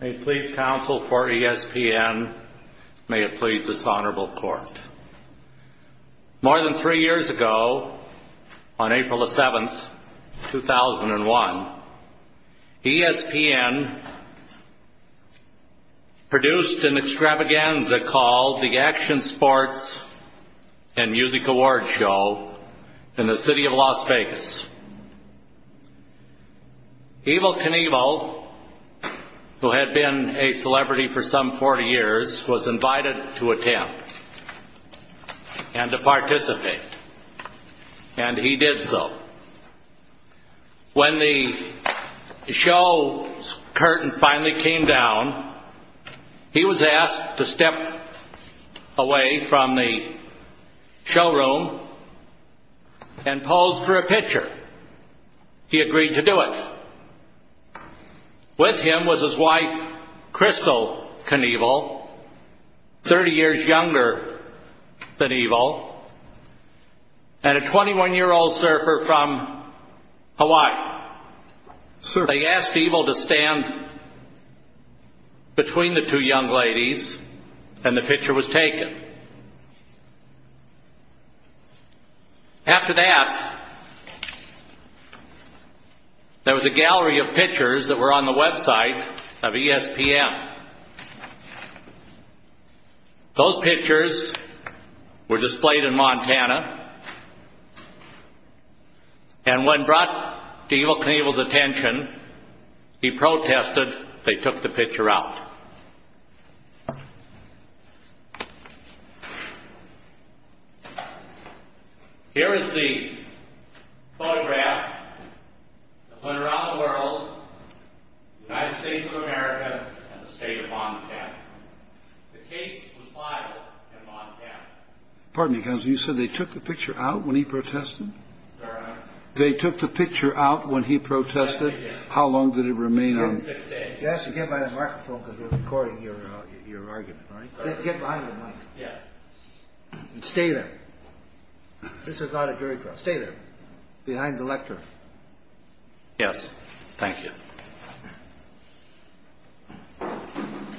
May it please counsel for ESPN, may it please this Honorable Court, more than three years ago on April 7, 2001, ESPN produced an extravaganza called the Action Sports and Music Award Show in the city of Las Vegas. Evel Knievel, who had been a celebrity for some 40 years, was invited to attend and to participate, and he did so. When the show's curtain finally came down, he was asked to step away from the showroom and pose for a picture. He agreed to do it. With him was his wife, Crystal Knievel, 30 years younger than Evel, and a 21-year-old surfer from Hawaii. They asked Evel to stand between the two young ladies, and the picture was taken. After that, there was a gallery of pictures that were on the website of ESPN. Those pictures were displayed in Montana, and when brought to Evel Knievel's attention, he protested, they took the picture out. Here is the photograph that went around the world, the United States of America, and the state of Pardon me, Counselor, you said they took the picture out when he protested? They took the picture out when he protested? How long did it remain on? You have to get behind the microphone because we're recording your argument. Get behind the mic. Stay there. This is not a jury trial. Stay there. Behind the lectern. Yes. Thank you. The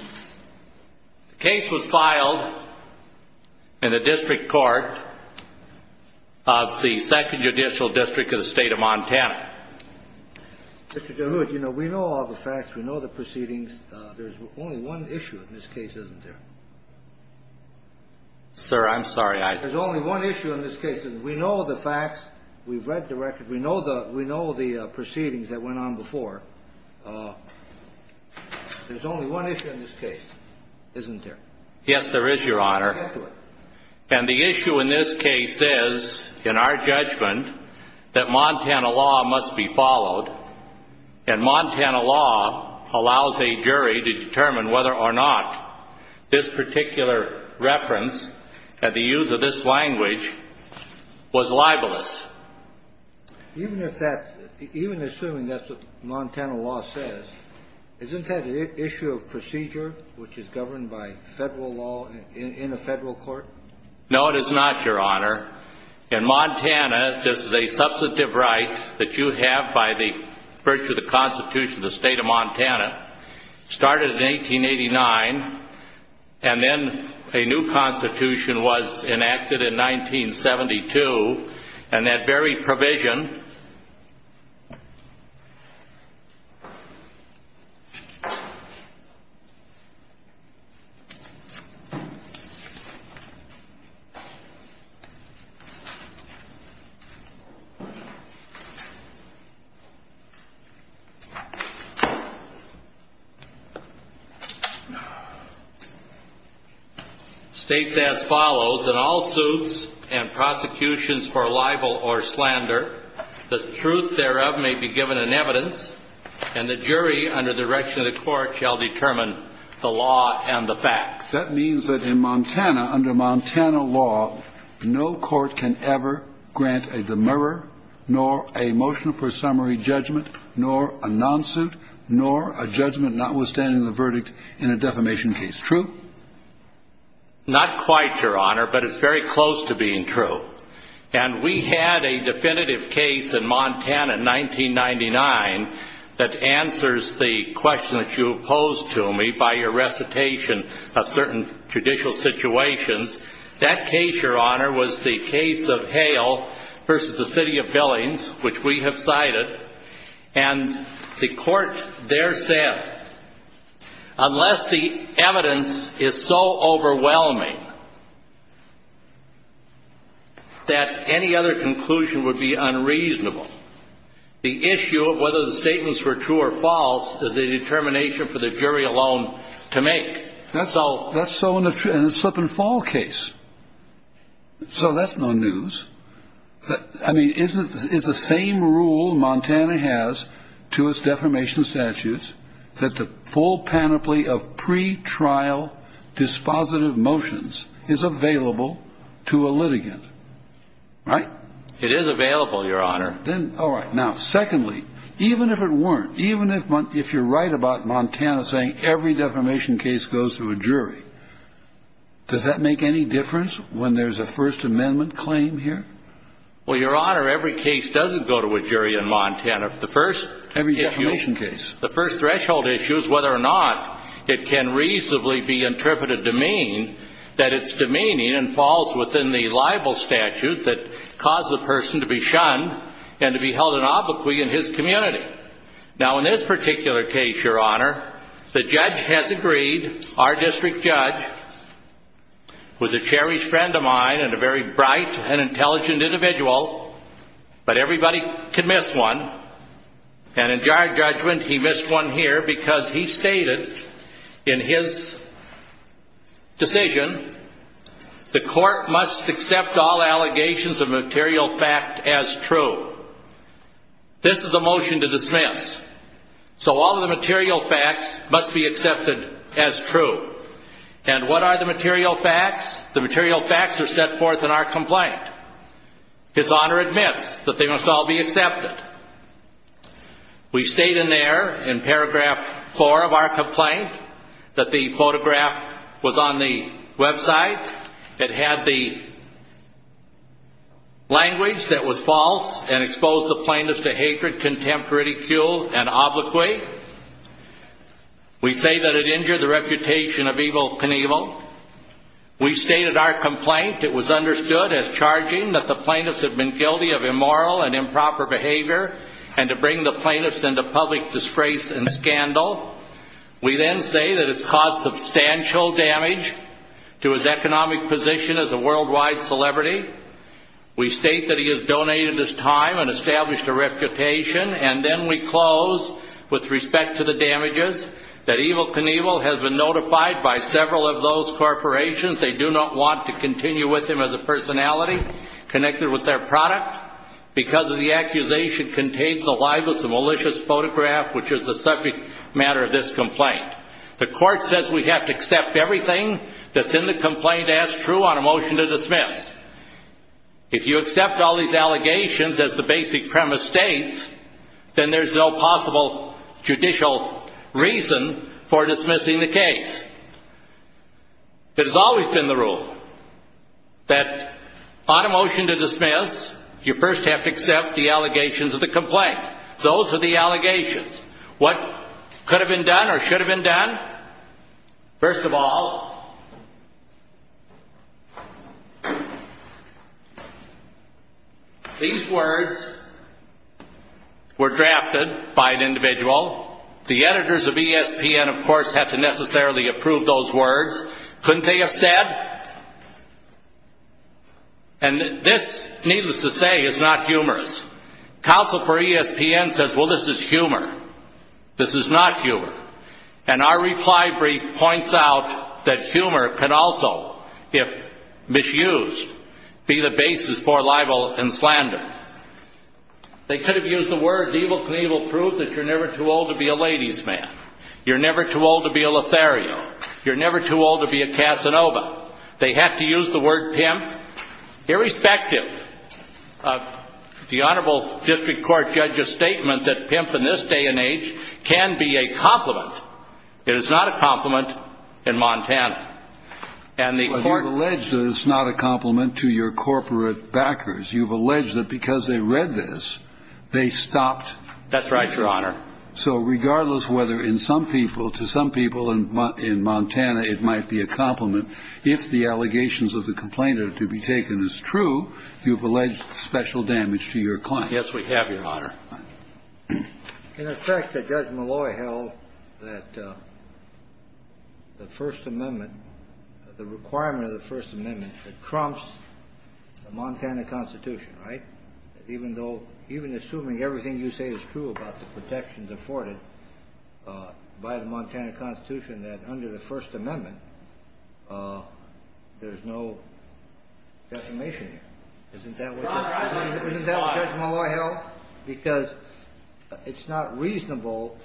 case was filed in the District Court of the Second Judicial District of the State of Montana. Mr. DeHood, you know, we know all the facts. We know the proceedings. There's only one issue in this case, isn't there? Sir, I'm sorry, I Yes, there is, Your Honor. And the issue in this case is, in our judgment, that Montana law must be followed, and Montana law allows a jury to determine whether or not this particular reference, and the use of this language, can be used against the defendant. Even assuming that's what Montana law says, isn't that an issue of procedure, which is governed by federal law in a federal court? No, it is not, Your Honor. In Montana, this is a substantive right that you have by the virtue of the Constitution of the State of Montana. It started in 1889, and then a new Constitution was enacted in 1972. And that very provision State that as follows, in all suits and prosecutions for libel or slander, the truth thereof may be given in evidence, and the jury, under the direction of the court, shall determine the law and the facts. That means that in Montana, under Montana law, no court can ever grant a demurrer, nor a motion for summary judgment, nor a non-suit, nor a judgment notwithstanding the verdict in a defamation case. True? Not quite, Your Honor, but it's very close to being true. And we had a definitive case in Montana in 1999 that answers the question that you posed to me by your recitation of certain judicial situations. That case, Your Honor, was the case of Hale v. The City of Billings, which we have cited. And the court there said, unless the evidence is so overwhelming that any other conclusion would be unreasonable, the issue of whether the statements were true or false is a determination for the jury alone to make. That's so in a slip-and-fall case. So that's no news. I mean, is the same rule Montana has to its defamation statutes that the full panoply of pretrial dispositive motions is available to a litigant? Right? It is available, Your Honor. All right. Now, secondly, even if it weren't, even if you're right about Montana saying every defamation case goes to a jury, does that make any difference when there's a First Amendment claim here? Well, Your Honor, every case doesn't go to a jury in Montana. The first issue— Every defamation case. The first threshold issue is whether or not it can reasonably be interpreted to mean that it's demeaning and falls within the libel statute that caused the person to be shunned and to be held an obloquy in his community. Now, in this particular case, Your Honor, the judge has agreed, our district judge, who's a cherished friend of mine and a very bright and intelligent individual, but everybody can miss one. And in our judgment, he missed one here because he stated in his decision, the court must accept all allegations of material fact as true. This is a motion to dismiss. So all of the material facts must be accepted as true. And what are the material facts? The material facts are set forth in our complaint. His Honor admits that they must all be accepted. We state in there, in paragraph four of our complaint, that the photograph was on the website. It had the language that was false and exposed the plaintiffs to hatred, contempt, ridicule, and obloquy. We state that it injured the reputation of Ivo Knievel. We state in our complaint, it was understood as charging that the plaintiffs had been guilty of immoral and improper behavior and to bring the plaintiffs into public disgrace and scandal. We then say that it's caused substantial damage to his economic position as a worldwide celebrity. We state that he has donated his time and established a reputation. And then we close with respect to the damages, that Ivo Knievel has been notified by several of those corporations. They do not want to continue with him as a personality connected with their product. Because the accusation contains the libelous and malicious photograph, which is the subject matter of this complaint. The court says we have to accept everything that's in the complaint as true on a motion to dismiss. If you accept all these allegations as the basic premise states, then there's no possible judicial reason for dismissing the case. It has always been the rule that on a motion to dismiss, you first have to accept the allegations of the complaint. Those are the allegations. What could have been done or should have been done? First of all, these words were drafted by an individual. The editors of ESPN, of course, have to necessarily approve those words. Couldn't they have said? And this, needless to say, is not humorous. Counsel for ESPN says, well, this is humor. This is not humor. And our reply brief points out that humor can also, if misused, be the basis for libel and slander. They could have used the words, evil can even prove that you're never too old to be a ladies man. You're never too old to be a Lothario. You're never too old to be a Casanova. They have to use the word pimp. Irrespective of the honorable district court judge's statement that pimp in this day and age can be a compliment, it is not a compliment in Montana. You've alleged that it's not a compliment to your corporate backers. You've alleged that because they read this, they stopped. That's right, Your Honor. So regardless whether in some people, to some people in Montana, it might be a compliment, if the allegations of the complainant to be taken as true, you've alleged special damage to your client. Yes, we have, Your Honor. In effect, Judge Malloy held that the First Amendment, the requirement of the First Amendment that trumps the Montana Constitution, right? Even though, even assuming everything you say is true about the protections afforded by the Montana Constitution, that under the First Amendment, there's no defamation here. Isn't that what Judge Malloy held? Because it's not reasonable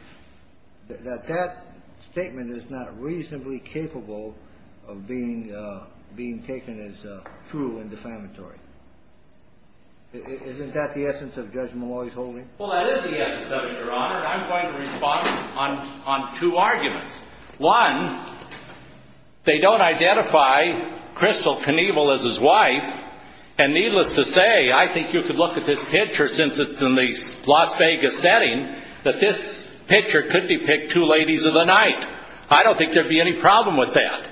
that that statement is not reasonably capable of being taken as true and defamatory. Isn't that the essence of Judge Malloy's holding? Well, that is the essence of it, Your Honor. And I'm going to respond on two arguments. One, they don't identify Crystal Knievel as his wife. And needless to say, I think you could look at this picture, since it's in the Las Vegas setting, that this picture could depict two ladies of the night. I don't think there'd be any problem with that.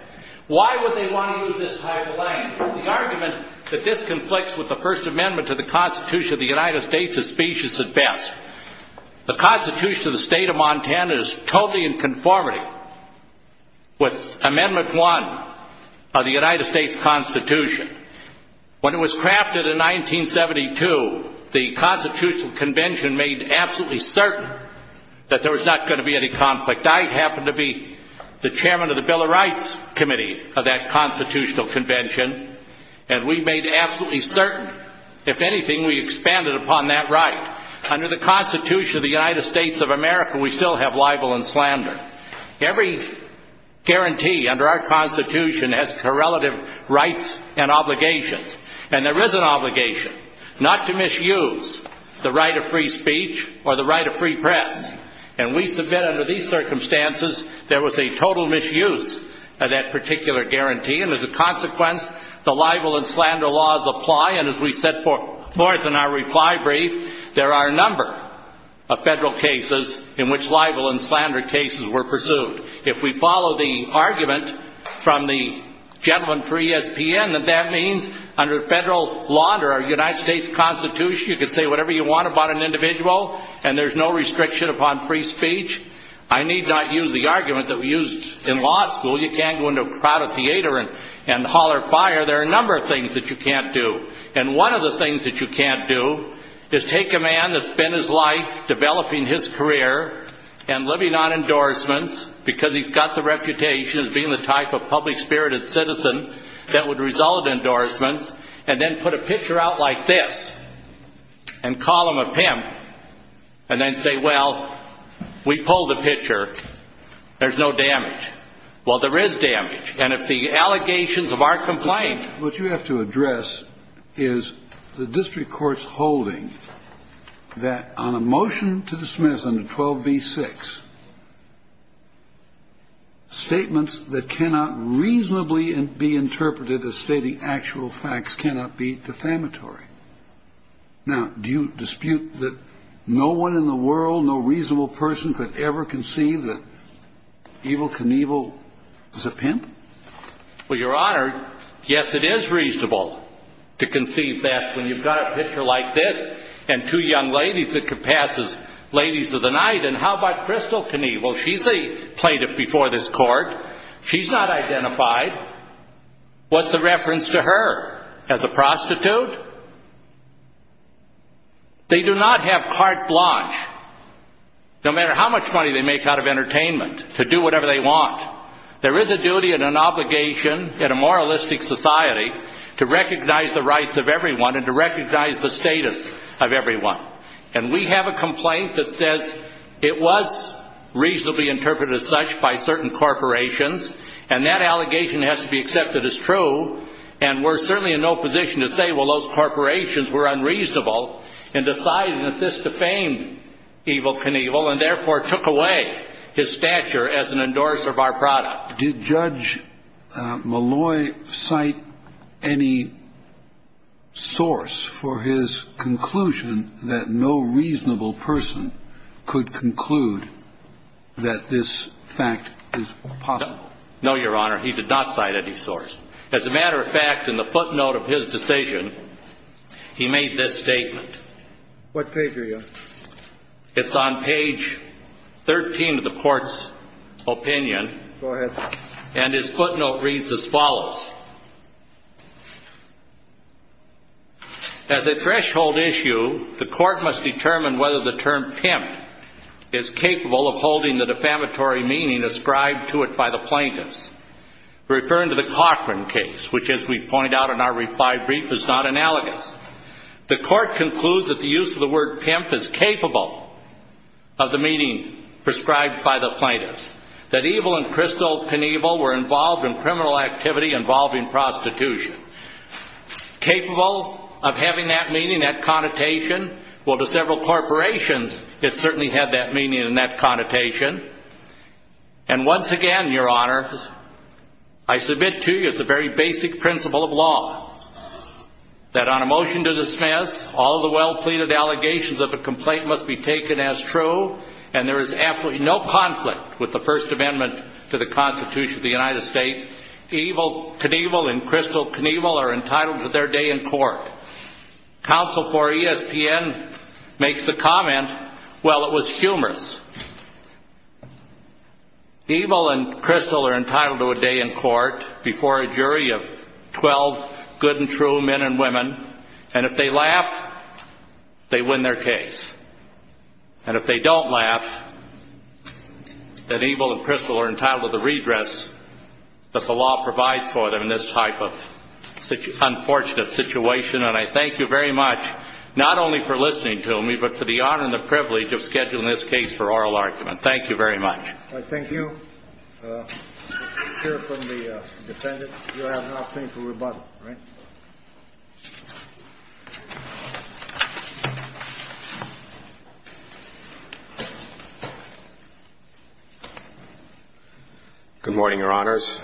Why would they want to do this type of thing? The argument that this conflicts with the First Amendment to the Constitution of the United States is specious at best. The Constitution of the State of Montana is totally in conformity with Amendment 1 of the United States Constitution. When it was crafted in 1972, the Constitutional Convention made absolutely certain that there was not going to be any conflict. I happened to be the chairman of the Bill of Rights Committee of that Constitutional Convention. And we made absolutely certain, if anything, we expanded upon that right. Under the Constitution of the United States of America, we still have libel and slander. Every guarantee under our Constitution has correlative rights and obligations. And there is an obligation not to misuse the right of free speech or the right of free press. And we submit under these circumstances there was a total misuse of that particular guarantee. And as a consequence, the libel and slander laws apply. And as we set forth in our reply brief, there are a number of federal cases in which libel and slander cases were pursued. If we follow the argument from the gentleman for ESPN that that means under federal law, under our United States Constitution, you can say whatever you want about an individual and there's no restriction upon free speech, I need not use the argument that we used in law school. You can't go into a crowded theater and holler fire. There are a number of things that you can't do. And one of the things that you can't do is take a man that's spent his life developing his career and living on endorsements because he's got the reputation as being the type of public-spirited citizen that would result in endorsements and then put a picture out like this and call him a pimp and then say, well, we pulled the picture. There's no damage. Well, there is damage. And if the allegations of our complaint — What you have to address is the district court's holding that on a motion to dismiss under 12b-6, statements that cannot reasonably be interpreted as stating actual facts cannot be defamatory. Now, do you dispute that no one in the world, no reasonable person could ever conceive that Evel Knievel is a pimp? Well, Your Honor, yes, it is reasonable to conceive that when you've got a picture like this and two young ladies that could pass as ladies of the night. And how about Crystal Knievel? She's a plaintiff before this court. She's not identified. What's the reference to her? As a prostitute? They do not have carte blanche, no matter how much money they make out of entertainment, to do whatever they want. There is a duty and an obligation in a moralistic society to recognize the rights of everyone and to recognize the status of everyone. And we have a complaint that says it was reasonably interpreted as such by certain corporations, and that allegation has to be accepted as true. And we're certainly in no position to say, well, those corporations were unreasonable in deciding that this defamed Evel Knievel and therefore took away his stature as an endorser of our product. Did Judge Malloy cite any source for his conclusion that no reasonable person could conclude that this fact is possible? No, Your Honor, he did not cite any source. As a matter of fact, in the footnote of his decision, he made this statement. What page are you on? It's on page 13 of the court's opinion. Go ahead. And his footnote reads as follows. As a threshold issue, the court must determine whether the term pimp is capable of holding the defamatory meaning ascribed to it by the plaintiffs. We're referring to the Cochran case, which, as we point out in our reply brief, is not analogous. The court concludes that the use of the word pimp is capable of the meaning prescribed by the plaintiffs, that Evel and Kristol Knievel were involved in criminal activity involving prostitution. Capable of having that meaning, that connotation? Well, to several corporations, it certainly had that meaning and that connotation. And once again, Your Honor, I submit to you the very basic principle of law, that on a motion to dismiss, all the well-pleaded allegations of a complaint must be taken as true, and there is absolutely no conflict with the First Amendment to the Constitution of the United States. Evel Knievel and Kristol Knievel are entitled to their day in court. Counsel for ESPN makes the comment, well, it was humorous. Evel and Kristol are entitled to a day in court before a jury of 12 good and true men and women, and if they laugh, they win their case. And if they don't laugh, then Evel and Kristol are entitled to the redress that the law provides for them in this type of unfortunate situation. And I thank you very much, not only for listening to me, but for the honor and the privilege of scheduling this case for oral argument. Thank you very much. All right, thank you. Let's hear from the defendant. You have nothing to rebut, right? Good morning, Your Honors.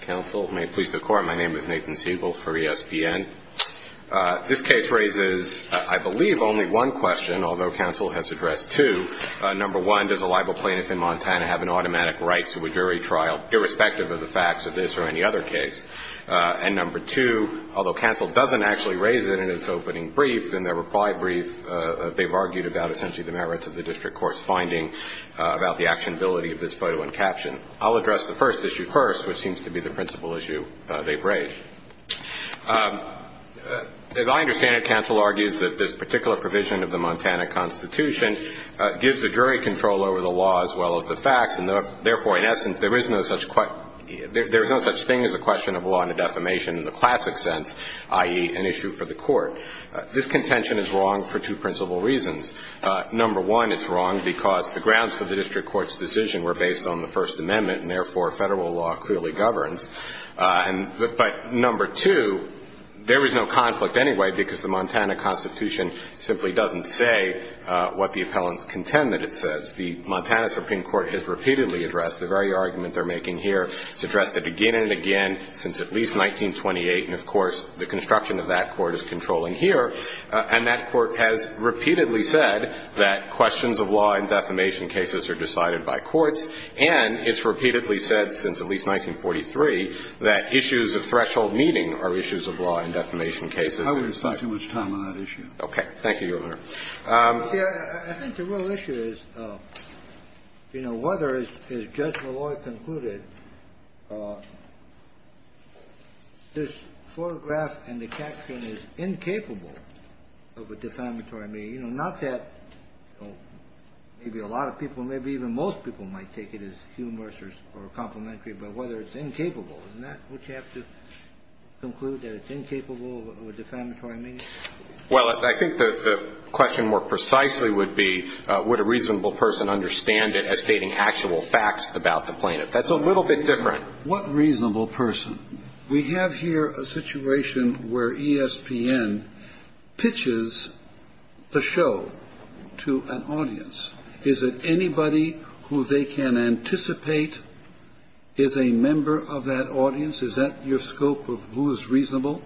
Counsel, may it please the Court, my name is Nathan Siegel for ESPN. This case raises, I believe, only one question, although counsel has addressed two. Number one, does a libel plaintiff in Montana have an automatic right to a jury trial, irrespective of the facts of this or any other case? And number two, although counsel doesn't actually raise it in its opening brief, in their reply brief, they've argued about essentially the merits of the district court's finding about the actionability of this photo and caption. I'll address the first issue first, which seems to be the principal issue they've raised. As I understand it, counsel argues that this particular provision of the Montana Constitution gives the jury control over the law as well as the facts, and therefore, in essence, there is no such thing as a question of law and defamation in the classic sense, i.e., an issue for the court. This contention is wrong for two principal reasons. Number one, it's wrong because the grounds for the district court's decision were based on the First Amendment, and therefore, federal law clearly governs. But number two, there is no conflict anyway because the Montana Constitution simply doesn't say what the appellants contend that it says. The Montana Supreme Court has repeatedly addressed the very argument they're making here. It's addressed it again and again since at least 1928, and of course, the construction of that court is controlling here. And that court has repeatedly said that questions of law and defamation cases are decided by courts, and it's repeatedly said since at least 1943 that issues of threshold meeting are issues of law and defamation cases. I won't spend too much time on that issue. Thank you, Your Honor. I think the real issue is, you know, whether, as Judge Malloy concluded, this photograph and the caption is incapable of a defamatory meeting. You know, not that maybe a lot of people, maybe even most people might take it as humorous or complimentary, but whether it's incapable. Isn't that what you have to conclude, that it's incapable of a defamatory meeting? Well, I think the question more precisely would be would a reasonable person understand it as stating actual facts about the plaintiff. That's a little bit different. What reasonable person? We have here a situation where ESPN pitches the show to an audience. Is it anybody who they can anticipate is a member of that audience? Is that your scope of who is reasonable?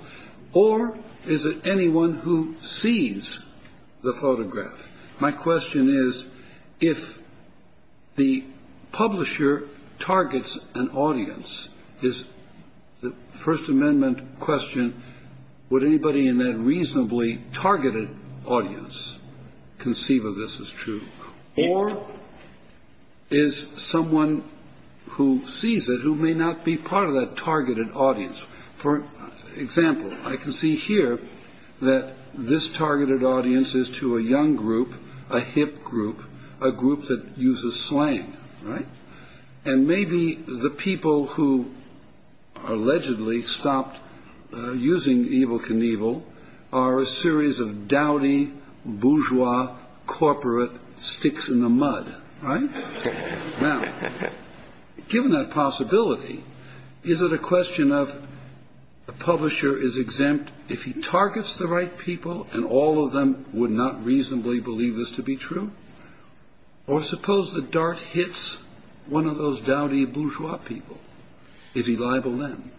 Or is it anyone who sees the photograph? My question is, if the publisher targets an audience, is the First Amendment question, would anybody in that reasonably targeted audience conceive of this as true? Or is someone who sees it who may not be part of that targeted audience? For example, I can see here that this targeted audience is to a young group, a hip group, a group that uses slang. Right. And maybe the people who allegedly stopped using Evel Knievel are a series of dowdy bourgeois corporate sticks in the mud. Right? Now, given that possibility, is it a question of the publisher is exempt if he targets the right people and all of them would not reasonably believe this to be true? Or suppose the dart hits one of those dowdy bourgeois people. Is he liable then?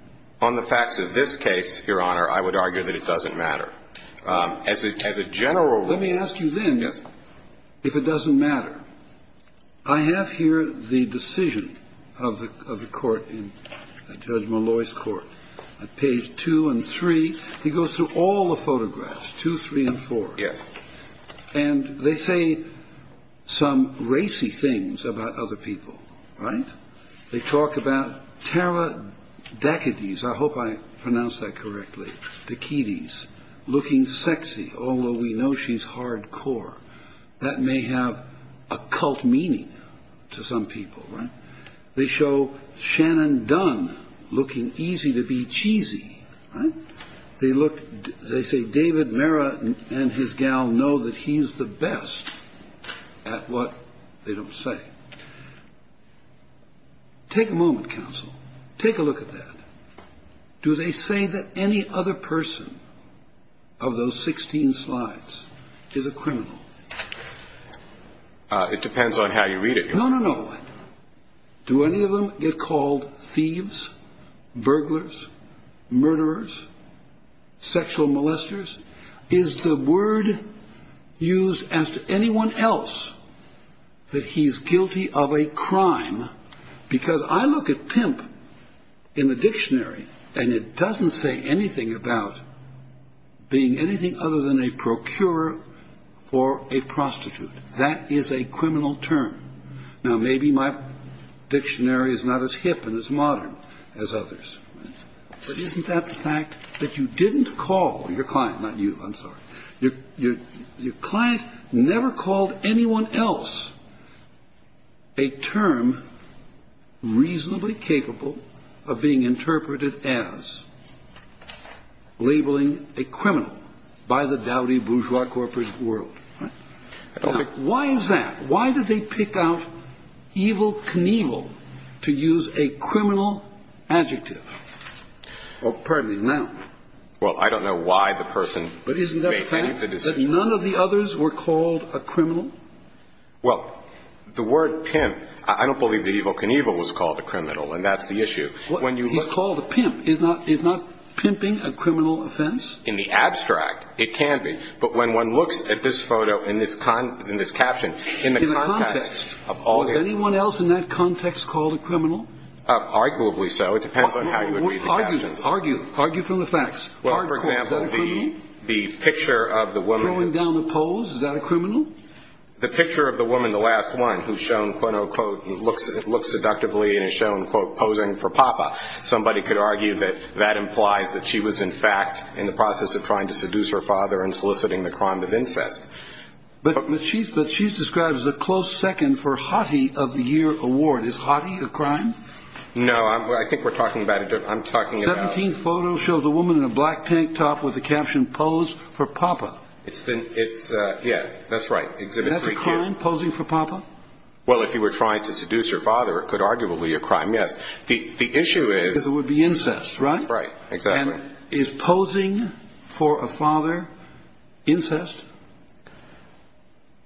On the facts of this case, Your Honor, I would argue that it doesn't matter. As a general rule ---- Let me ask you then ---- Yes. If it doesn't matter, I have here the decision of the court in Judge Malloy's court. At page two and three, he goes through all the photographs, two, three, and four. Yes. And they say some racy things about other people. Right? They talk about Tara Dakides. I hope I pronounced that correctly. Dakides, looking sexy, although we know she's hardcore. That may have a cult meaning to some people. Right? They show Shannon Dunn looking easy to be cheesy. Right? They look. They say David Mara and his gal know that he's the best at what they don't say. Take a moment, counsel. Take a look at that. Do they say that any other person of those 16 slides is a criminal? It depends on how you read it, Your Honor. No, no, no. Do any of them get called thieves, burglars, murderers, sexual molesters? Is the word used as to anyone else that he's guilty of a crime? Because I look at pimp in the dictionary, and it doesn't say anything about being anything other than a procurer for a prostitute. That is a criminal term. Now, maybe my dictionary is not as hip and as modern as others. But isn't that the fact that you didn't call your client? Not you. I'm sorry. Your client never called anyone else a term reasonably capable of being interpreted as labeling a criminal by the dowdy bourgeois corporate world. Why is that? Why did they pick out evil Knievel to use a criminal adjective? Oh, pardon me. Well, I don't know why the person made any of the decisions. But isn't that the fact that none of the others were called a criminal? Well, the word pimp, I don't believe that evil Knievel was called a criminal, and that's the issue. He's called a pimp. Is not pimping a criminal offense? In the abstract, it can be. But when one looks at this photo in this caption, in the context of all the others. Was anyone else in that context called a criminal? Arguably so. It depends on how you would read the captions. Argue. Argue from the facts. Well, for example, the picture of the woman. Is that a criminal? The picture of the woman, the last one, who's shown, quote, unquote, looks seductively and is shown, quote, posing for Papa. Somebody could argue that that implies that she was, in fact, in the process of trying to seduce her father and soliciting the crime of incest. But she's described as a close second for hottie of the year award. Is hottie a crime? No, I think we're talking about. I'm talking about the photo shows a woman in a black tank top with a caption posed for Papa. It's been it's. Yeah, that's right. Exhibit posing for Papa. Well, if you were trying to seduce your father, it could arguably a crime. Yes, the issue is it would be incest. Right. Right. Exactly. Is posing for a father incest.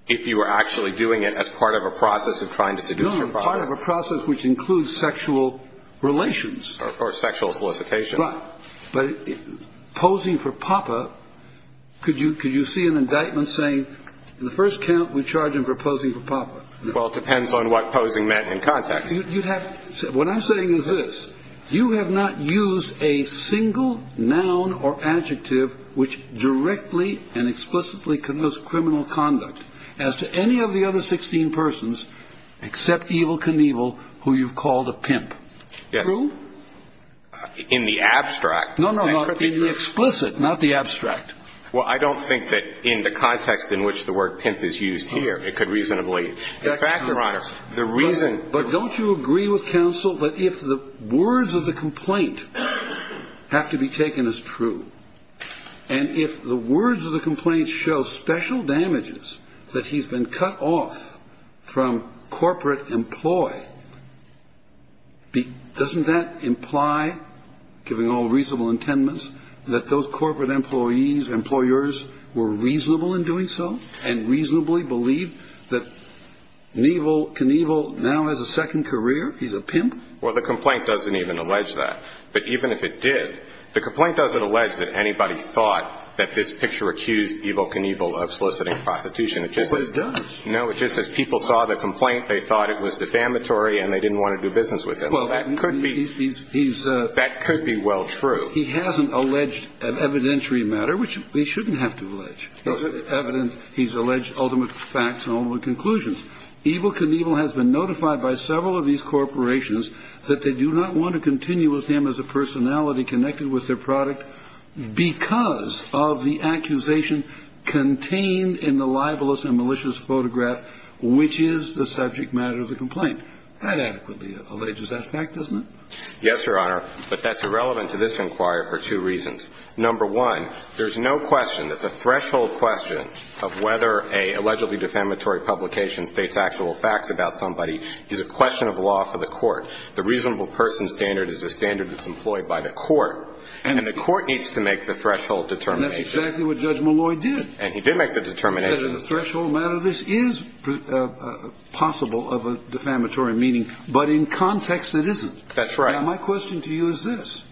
If you were actually doing it as part of a process of trying to seduce a part of a process which includes sexual relations. Or sexual solicitation. Right. But posing for Papa. Could you could you see an indictment saying the first count we charge him for posing for Papa. Well, it depends on what posing meant in context. What I'm saying is this. You have not used a single noun or adjective which directly and explicitly criminal conduct as to any of the other 16 persons except evil Knievel, who you've called a pimp. Yes. Who? In the abstract. No, no, no. In the explicit, not the abstract. Well, I don't think that in the context in which the word pimp is used here, it could reasonably. In fact, Your Honor, the reason. But don't you agree with counsel that if the words of the complaint have to be taken as true. And if the words of the complaint show special damages that he's been cut off from corporate employ. Doesn't that imply, giving all reasonable intendance, that those corporate employees, employers were reasonable in doing so and reasonably believe that Knievel now has a second career. He's a pimp. Well, the complaint doesn't even allege that. But even if it did, the complaint doesn't allege that anybody thought that this picture accused evil Knievel of soliciting prostitution. No, it just says people saw the complaint. They thought it was defamatory and they didn't want to do business with it. Well, that could be. That could be well true. He hasn't alleged an evidentiary matter, which we shouldn't have to allege evidence. He's alleged ultimate facts and all the conclusions. Evil Knievel has been notified by several of these corporations that they do not want to continue with him as a personality connected with their product because of the accusation contained in the libelous and malicious photograph, which is the subject matter of the complaint. That adequately alleges that fact, doesn't it? Yes, Your Honor. But that's irrelevant to this inquiry for two reasons. Number one, there's no question that the threshold question of whether a allegedly defamatory publication states actual facts about somebody is a question of law for the court. The reasonable person standard is a standard that's employed by the court. And the court needs to make the threshold determination. And that's exactly what Judge Malloy did. And he did make the determination. That in a threshold matter, this is possible of a defamatory meaning, but in context, it isn't. That's right. My question to you is this.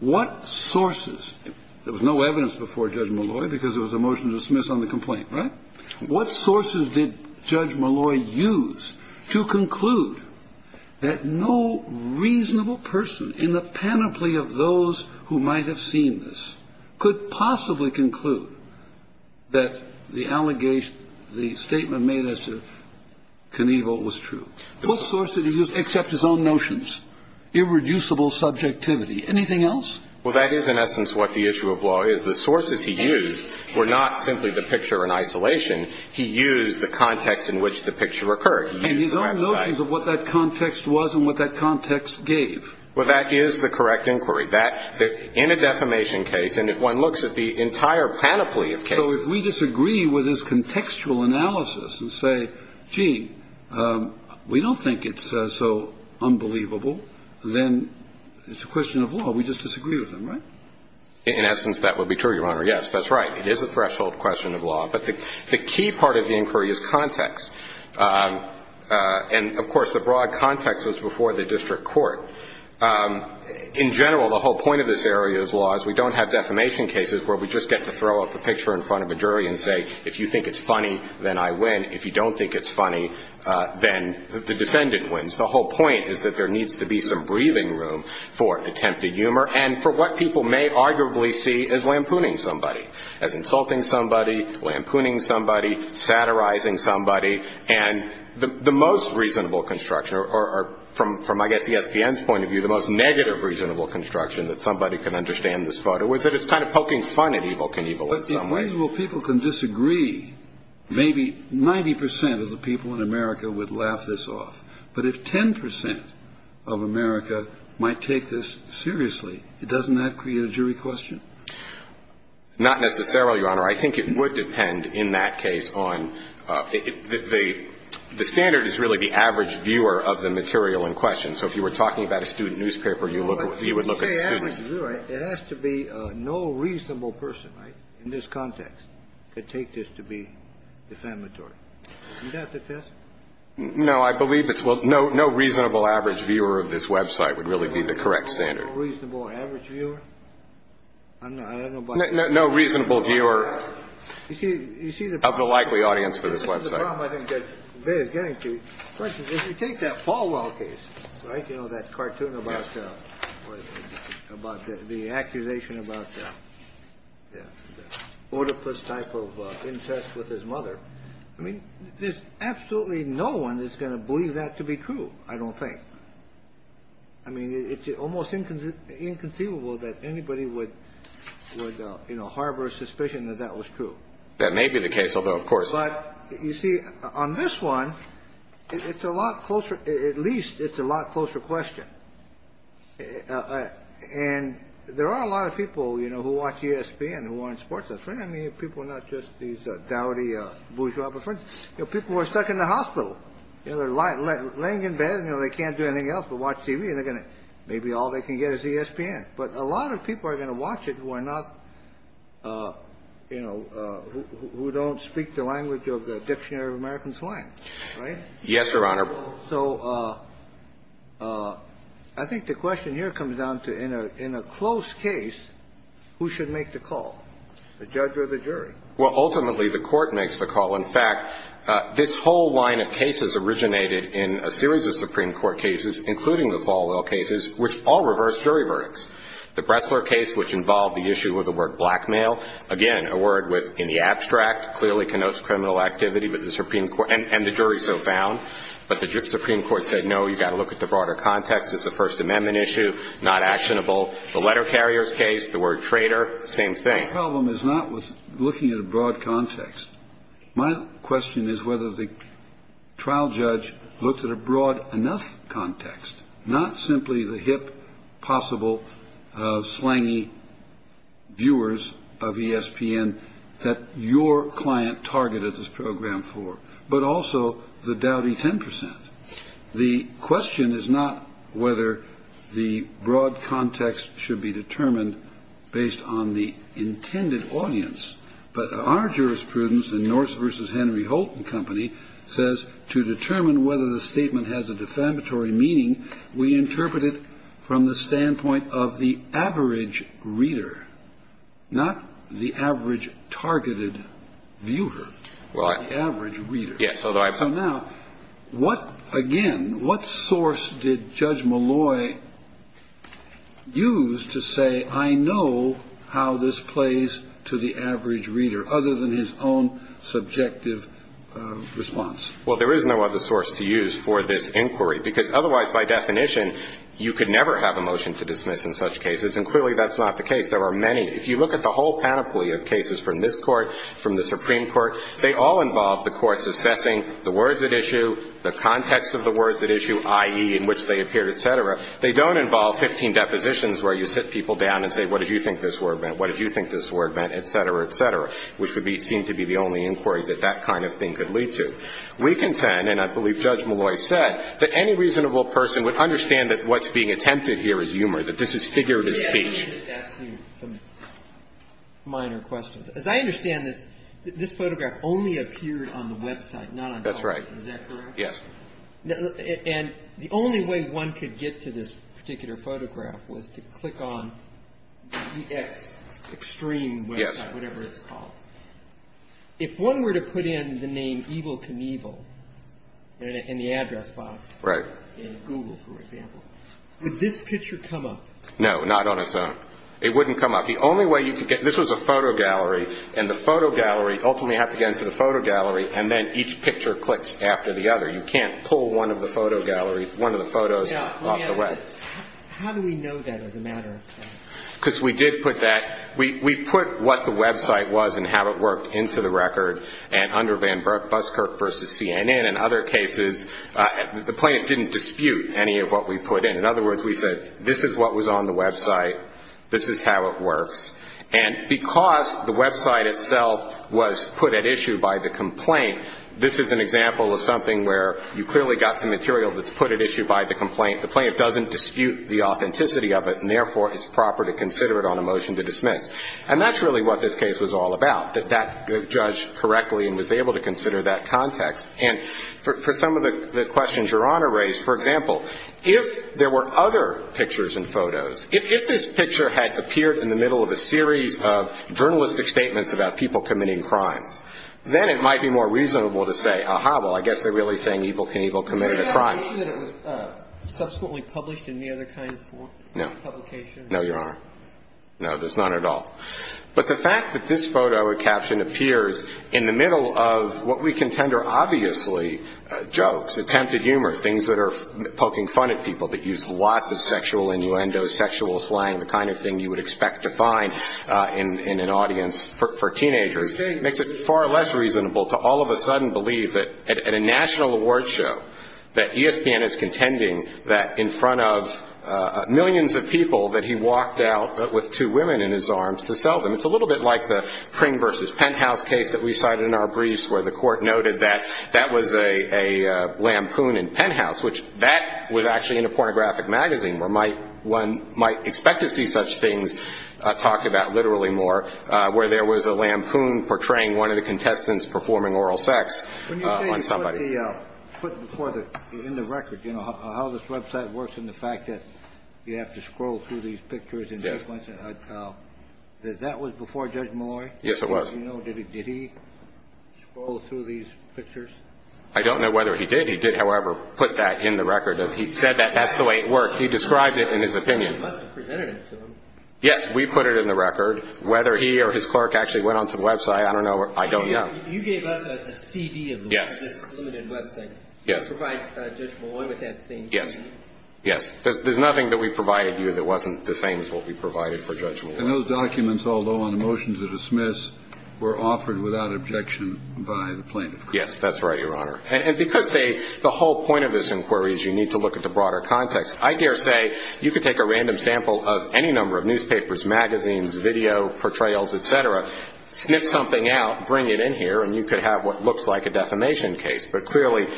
What sources – there was no evidence before Judge Malloy because there was a motion to dismiss on the complaint, right? What sources did Judge Malloy use to conclude that no reasonable person in the panoply of those who might have seen this could possibly conclude that the allegation, the statement made as to Knievel was true? What sources did he use except his own notions? Irreducible subjectivity. Anything else? Well, that is in essence what the issue of law is. The sources he used were not simply the picture in isolation. He used the context in which the picture occurred. He used the website. And his own notions of what that context was and what that context gave. Well, that is the correct inquiry. In a defamation case, and if one looks at the entire panoply of cases – If we don't think it's so unbelievable, then it's a question of law. We just disagree with them, right? In essence, that would be true, Your Honor. Yes, that's right. It is a threshold question of law. But the key part of the inquiry is context. And, of course, the broad context was before the district court. In general, the whole point of this area of law is we don't have defamation cases where we just get to throw up a picture in front of a jury and say, If you think it's funny, then I win. If you don't think it's funny, then the defendant wins. The whole point is that there needs to be some breathing room for attempted humor and for what people may arguably see as lampooning somebody, as insulting somebody, lampooning somebody, satirizing somebody. And the most reasonable construction, or from, I guess, the SPN's point of view, the most negative reasonable construction that somebody can understand this photo is that it's kind of poking fun at evil can evil in some ways. If reasonable people can disagree, maybe 90 percent of the people in America would laugh this off. But if 10 percent of America might take this seriously, doesn't that create a jury question? Not necessarily, Your Honor. I think it would depend in that case on the standard is really the average viewer of the material in question. So if you were talking about a student newspaper, you would look at students. It has to be no reasonable person in this context to take this to be defamatory. Isn't that the test? No, I believe it's no reasonable average viewer of this Web site would really be the correct standard. No reasonable average viewer? I don't know about that. No reasonable viewer of the likely audience for this Web site. Well, I think they're getting to take that Falwell case. Right. You know, that cartoon about about the accusation about the order plus type of interest with his mother. I mean, there's absolutely no one is going to believe that to be true. I don't think. I mean, it's almost inconceivable that anybody would, you know, harbor suspicion that that was true. That may be the case, although, of course. But you see, on this one, it's a lot closer. At least it's a lot closer question. And there are a lot of people, you know, who watch ESPN and who aren't sports. That's right. I mean, people are not just these dowdy bourgeois. You know, people are stuck in the hospital. They're lying laying in bed. You know, they can't do anything else but watch TV. And they're going to maybe all they can get is ESPN. But a lot of people are going to watch it who are not, you know, who don't speak the language of the Dictionary of American Slang. Right? Yes, Your Honor. So I think the question here comes down to in a close case, who should make the call, the judge or the jury? Well, ultimately, the court makes the call. In fact, this whole line of cases originated in a series of Supreme Court cases, including the Falwell cases, which all reversed jury verdicts. The Bressler case, which involved the issue of the word blackmail, again, a word with, in the abstract, clearly connotes criminal activity with the Supreme Court and the jury so found. But the Supreme Court said, no, you've got to look at the broader context. It's a First Amendment issue, not actionable. The letter carriers case, the word traitor, same thing. The problem is not with looking at a broad context. My question is whether the trial judge looks at a broad enough context, not simply the hip, possible, slangy viewers of ESPN that your client targeted this program for, but also the dowdy 10 percent. The question is not whether the broad context should be determined based on the intended audience. But our jurisprudence in Norse v. Henry Holt and Company says to determine whether the statement has a defamatory meaning, we interpret it from the standpoint of the average reader, not the average targeted viewer, the average reader. So now, what, again, what source did Judge Malloy use to say, I know how this plays out, but what source did he use to determine whether the statement has a defamatory And how did he do this to the average reader other than his own subjective response? Well, there is no other source to use for this inquiry, because otherwise, by definition, you could never have a motion to dismiss in such cases. And clearly that's not the case. There are many. If you look at the whole panoply of cases from this Court, from the Supreme Court, they all involve the courts assessing the words at issue, the context of the words at issue, i.e., in which they appeared, et cetera. They don't involve 15 depositions where you sit people down and say, what did you think this word meant, what did you think this word meant, et cetera, et cetera, which would seem to be the only inquiry that that kind of thing could lead to. We contend, and I believe Judge Malloy said, that any reasonable person would understand that what's being attempted here is humor, that this is figurative speech. Let me just ask you some minor questions. As I understand this, this photograph only appeared on the Web site, not on public. That's right. Is that correct? Yes. And the only way one could get to this particular photograph was to click on EX, extreme Web site, whatever it's called. Yes. If one were to put in the name Evel Knievel in the address box in Google, for example, would this picture come up? No, not on its own. It wouldn't come up. The only way you could get, this was a photo gallery, and the photo gallery, ultimately you have to get into the photo gallery, and then each picture clicks after the other. You can't pull one of the photo gallery, one of the photos off the Web. How do we know that as a matter of fact? Because we did put that, we put what the Web site was and how it worked into the record, and under Van Buskirk versus CNN. In other cases, the plaintiff didn't dispute any of what we put in. In other words, we said, this is what was on the Web site, this is how it works. And because the Web site itself was put at issue by the complaint, this is an example of something where you clearly got some material that's put at issue by the complaint. The plaintiff doesn't dispute the authenticity of it, and, therefore, it's proper to consider it on a motion to dismiss. And that's really what this case was all about, that that judge correctly and was able to consider that context. And for some of the questions Your Honor raised, for example, if there were other pictures and photos, if this picture had appeared in the middle of a series of journalistic statements about people committing crimes, then it might be more reasonable to say, ah-ha, well, I guess they're really saying Evel Knievel committed a crime. Was there an issue that it was subsequently published in any other kind of publication? No, Your Honor. No, there's none at all. But the fact that this photo or caption appears in the middle of what we contend are obviously jokes, attempted humor, things that are poking fun at people that use lots of sexual innuendo, sexual slang, the kind of thing you would expect to find in an audience for teenagers, makes it far less reasonable to all of a sudden believe that at a national awards show that ESPN is contending that in front of It's a little bit like the Pring v. Penthouse case that we cited in our briefs where the court noted that that was a lampoon in Penthouse, which that was actually in a pornographic magazine where one might expect to see such things talked about literally more, where there was a lampoon portraying one of the contestants performing oral sex on somebody. When you say you put in the record how this website works and the fact that you have to scroll through these pictures and that was before Judge Malloy? Yes, it was. Did he scroll through these pictures? I don't know whether he did. He did, however, put that in the record. He said that that's the way it worked. He described it in his opinion. You must have presented it to him. Yes, we put it in the record. Whether he or his clerk actually went onto the website, I don't know. You gave us a CD of this limited website. Yes. You provide Judge Malloy with that same CD? Yes. There's nothing that we provided you that wasn't the same as what we provided for Judge Malloy. And those documents, although on a motion to dismiss, were offered without objection by the plaintiff? Yes, that's right, Your Honor. And because the whole point of this inquiry is you need to look at the broader context, I dare say you could take a random sample of any number of newspapers, magazines, video, portrayals, et cetera, sniff something out, bring it in here, and you could have what looks like a defamation case. But clearly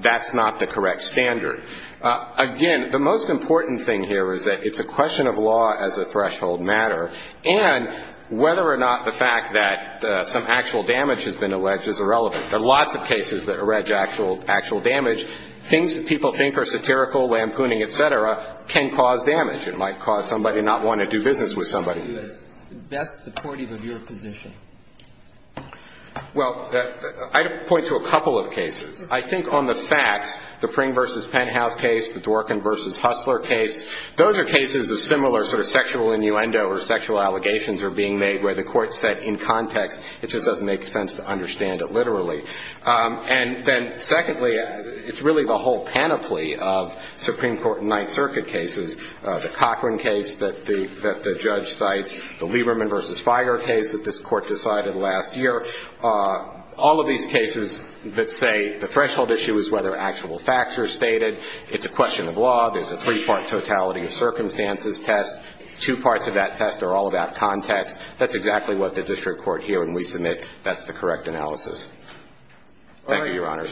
that's not the correct standard. Again, the most important thing here is that it's a question of law as a threshold matter, and whether or not the fact that some actual damage has been alleged is irrelevant. There are lots of cases that allege actual damage. Things that people think are satirical, lampooning, et cetera, can cause damage. It might cause somebody not wanting to do business with somebody. Best supportive of your position? Well, I'd point to a couple of cases. I think on the facts, the Pring v. Penthouse case, the Dworkin v. Hustler case, those are cases of similar sort of sexual innuendo or sexual allegations are being made where the court said in context, it just doesn't make sense to understand it literally. And then secondly, it's really the whole panoply of Supreme Court and Ninth Circuit cases, the Cochran case that the judge cites, the Lieberman v. Figer case that this court decided last year, all of these cases that say the threshold issue is whether actual facts are stated. It's a question of law. There's a three-part totality of circumstances test. Two parts of that test are all about context. That's exactly what the district court here, and we submit that's the correct analysis. Thank you, Your Honors.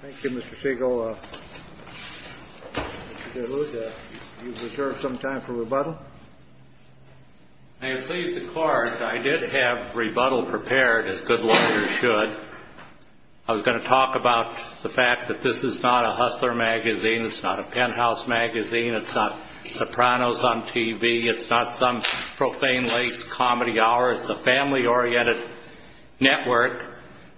Thank you, Mr. Siegel. Mr. DeLuca, do you reserve some time for rebuttal? May it please the Court, I did have rebuttal prepared, as good lawyers should. I was going to talk about the fact that this is not a Hustler magazine. It's not a Penthouse magazine. It's not Sopranos on TV. It's not some Profane Lakes comedy hour. It's a family-oriented network.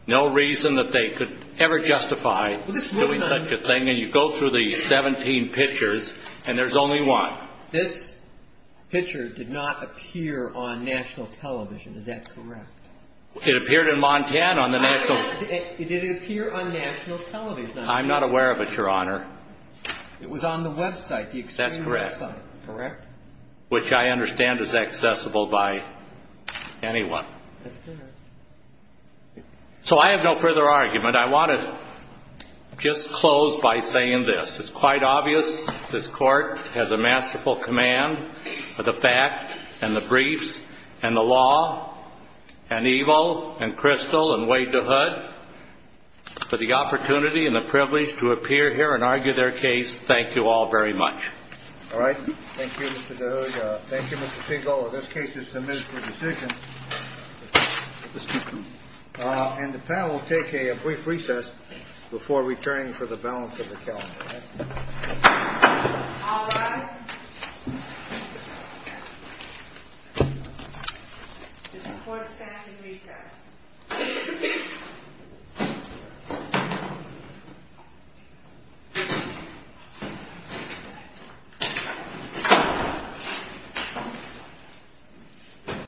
No reason that they could ever justify doing such a thing. And you go through the 17 pictures, and there's only one. This picture did not appear on national television. Is that correct? It appeared in Montana on the national TV. Did it appear on national television? I'm not aware of it, Your Honor. It was on the website, the extreme website. That's correct. Correct? Which I understand is accessible by anyone. That's correct. So I have no further argument. I want to just close by saying this. It's quite obvious this Court has a masterful command of the fact and the briefs and the law and Eble and Crystal and Wade DeHood. For the opportunity and the privilege to appear here and argue their case, thank you all very much. All right. Thank you, Mr. DeHood. Thank you, Mr. Siegel. In this case, it's a ministerial decision. Mr. DeHood. And the panel will take a brief recess before returning for the balance of the calendar. All rise. This Court stands in recess.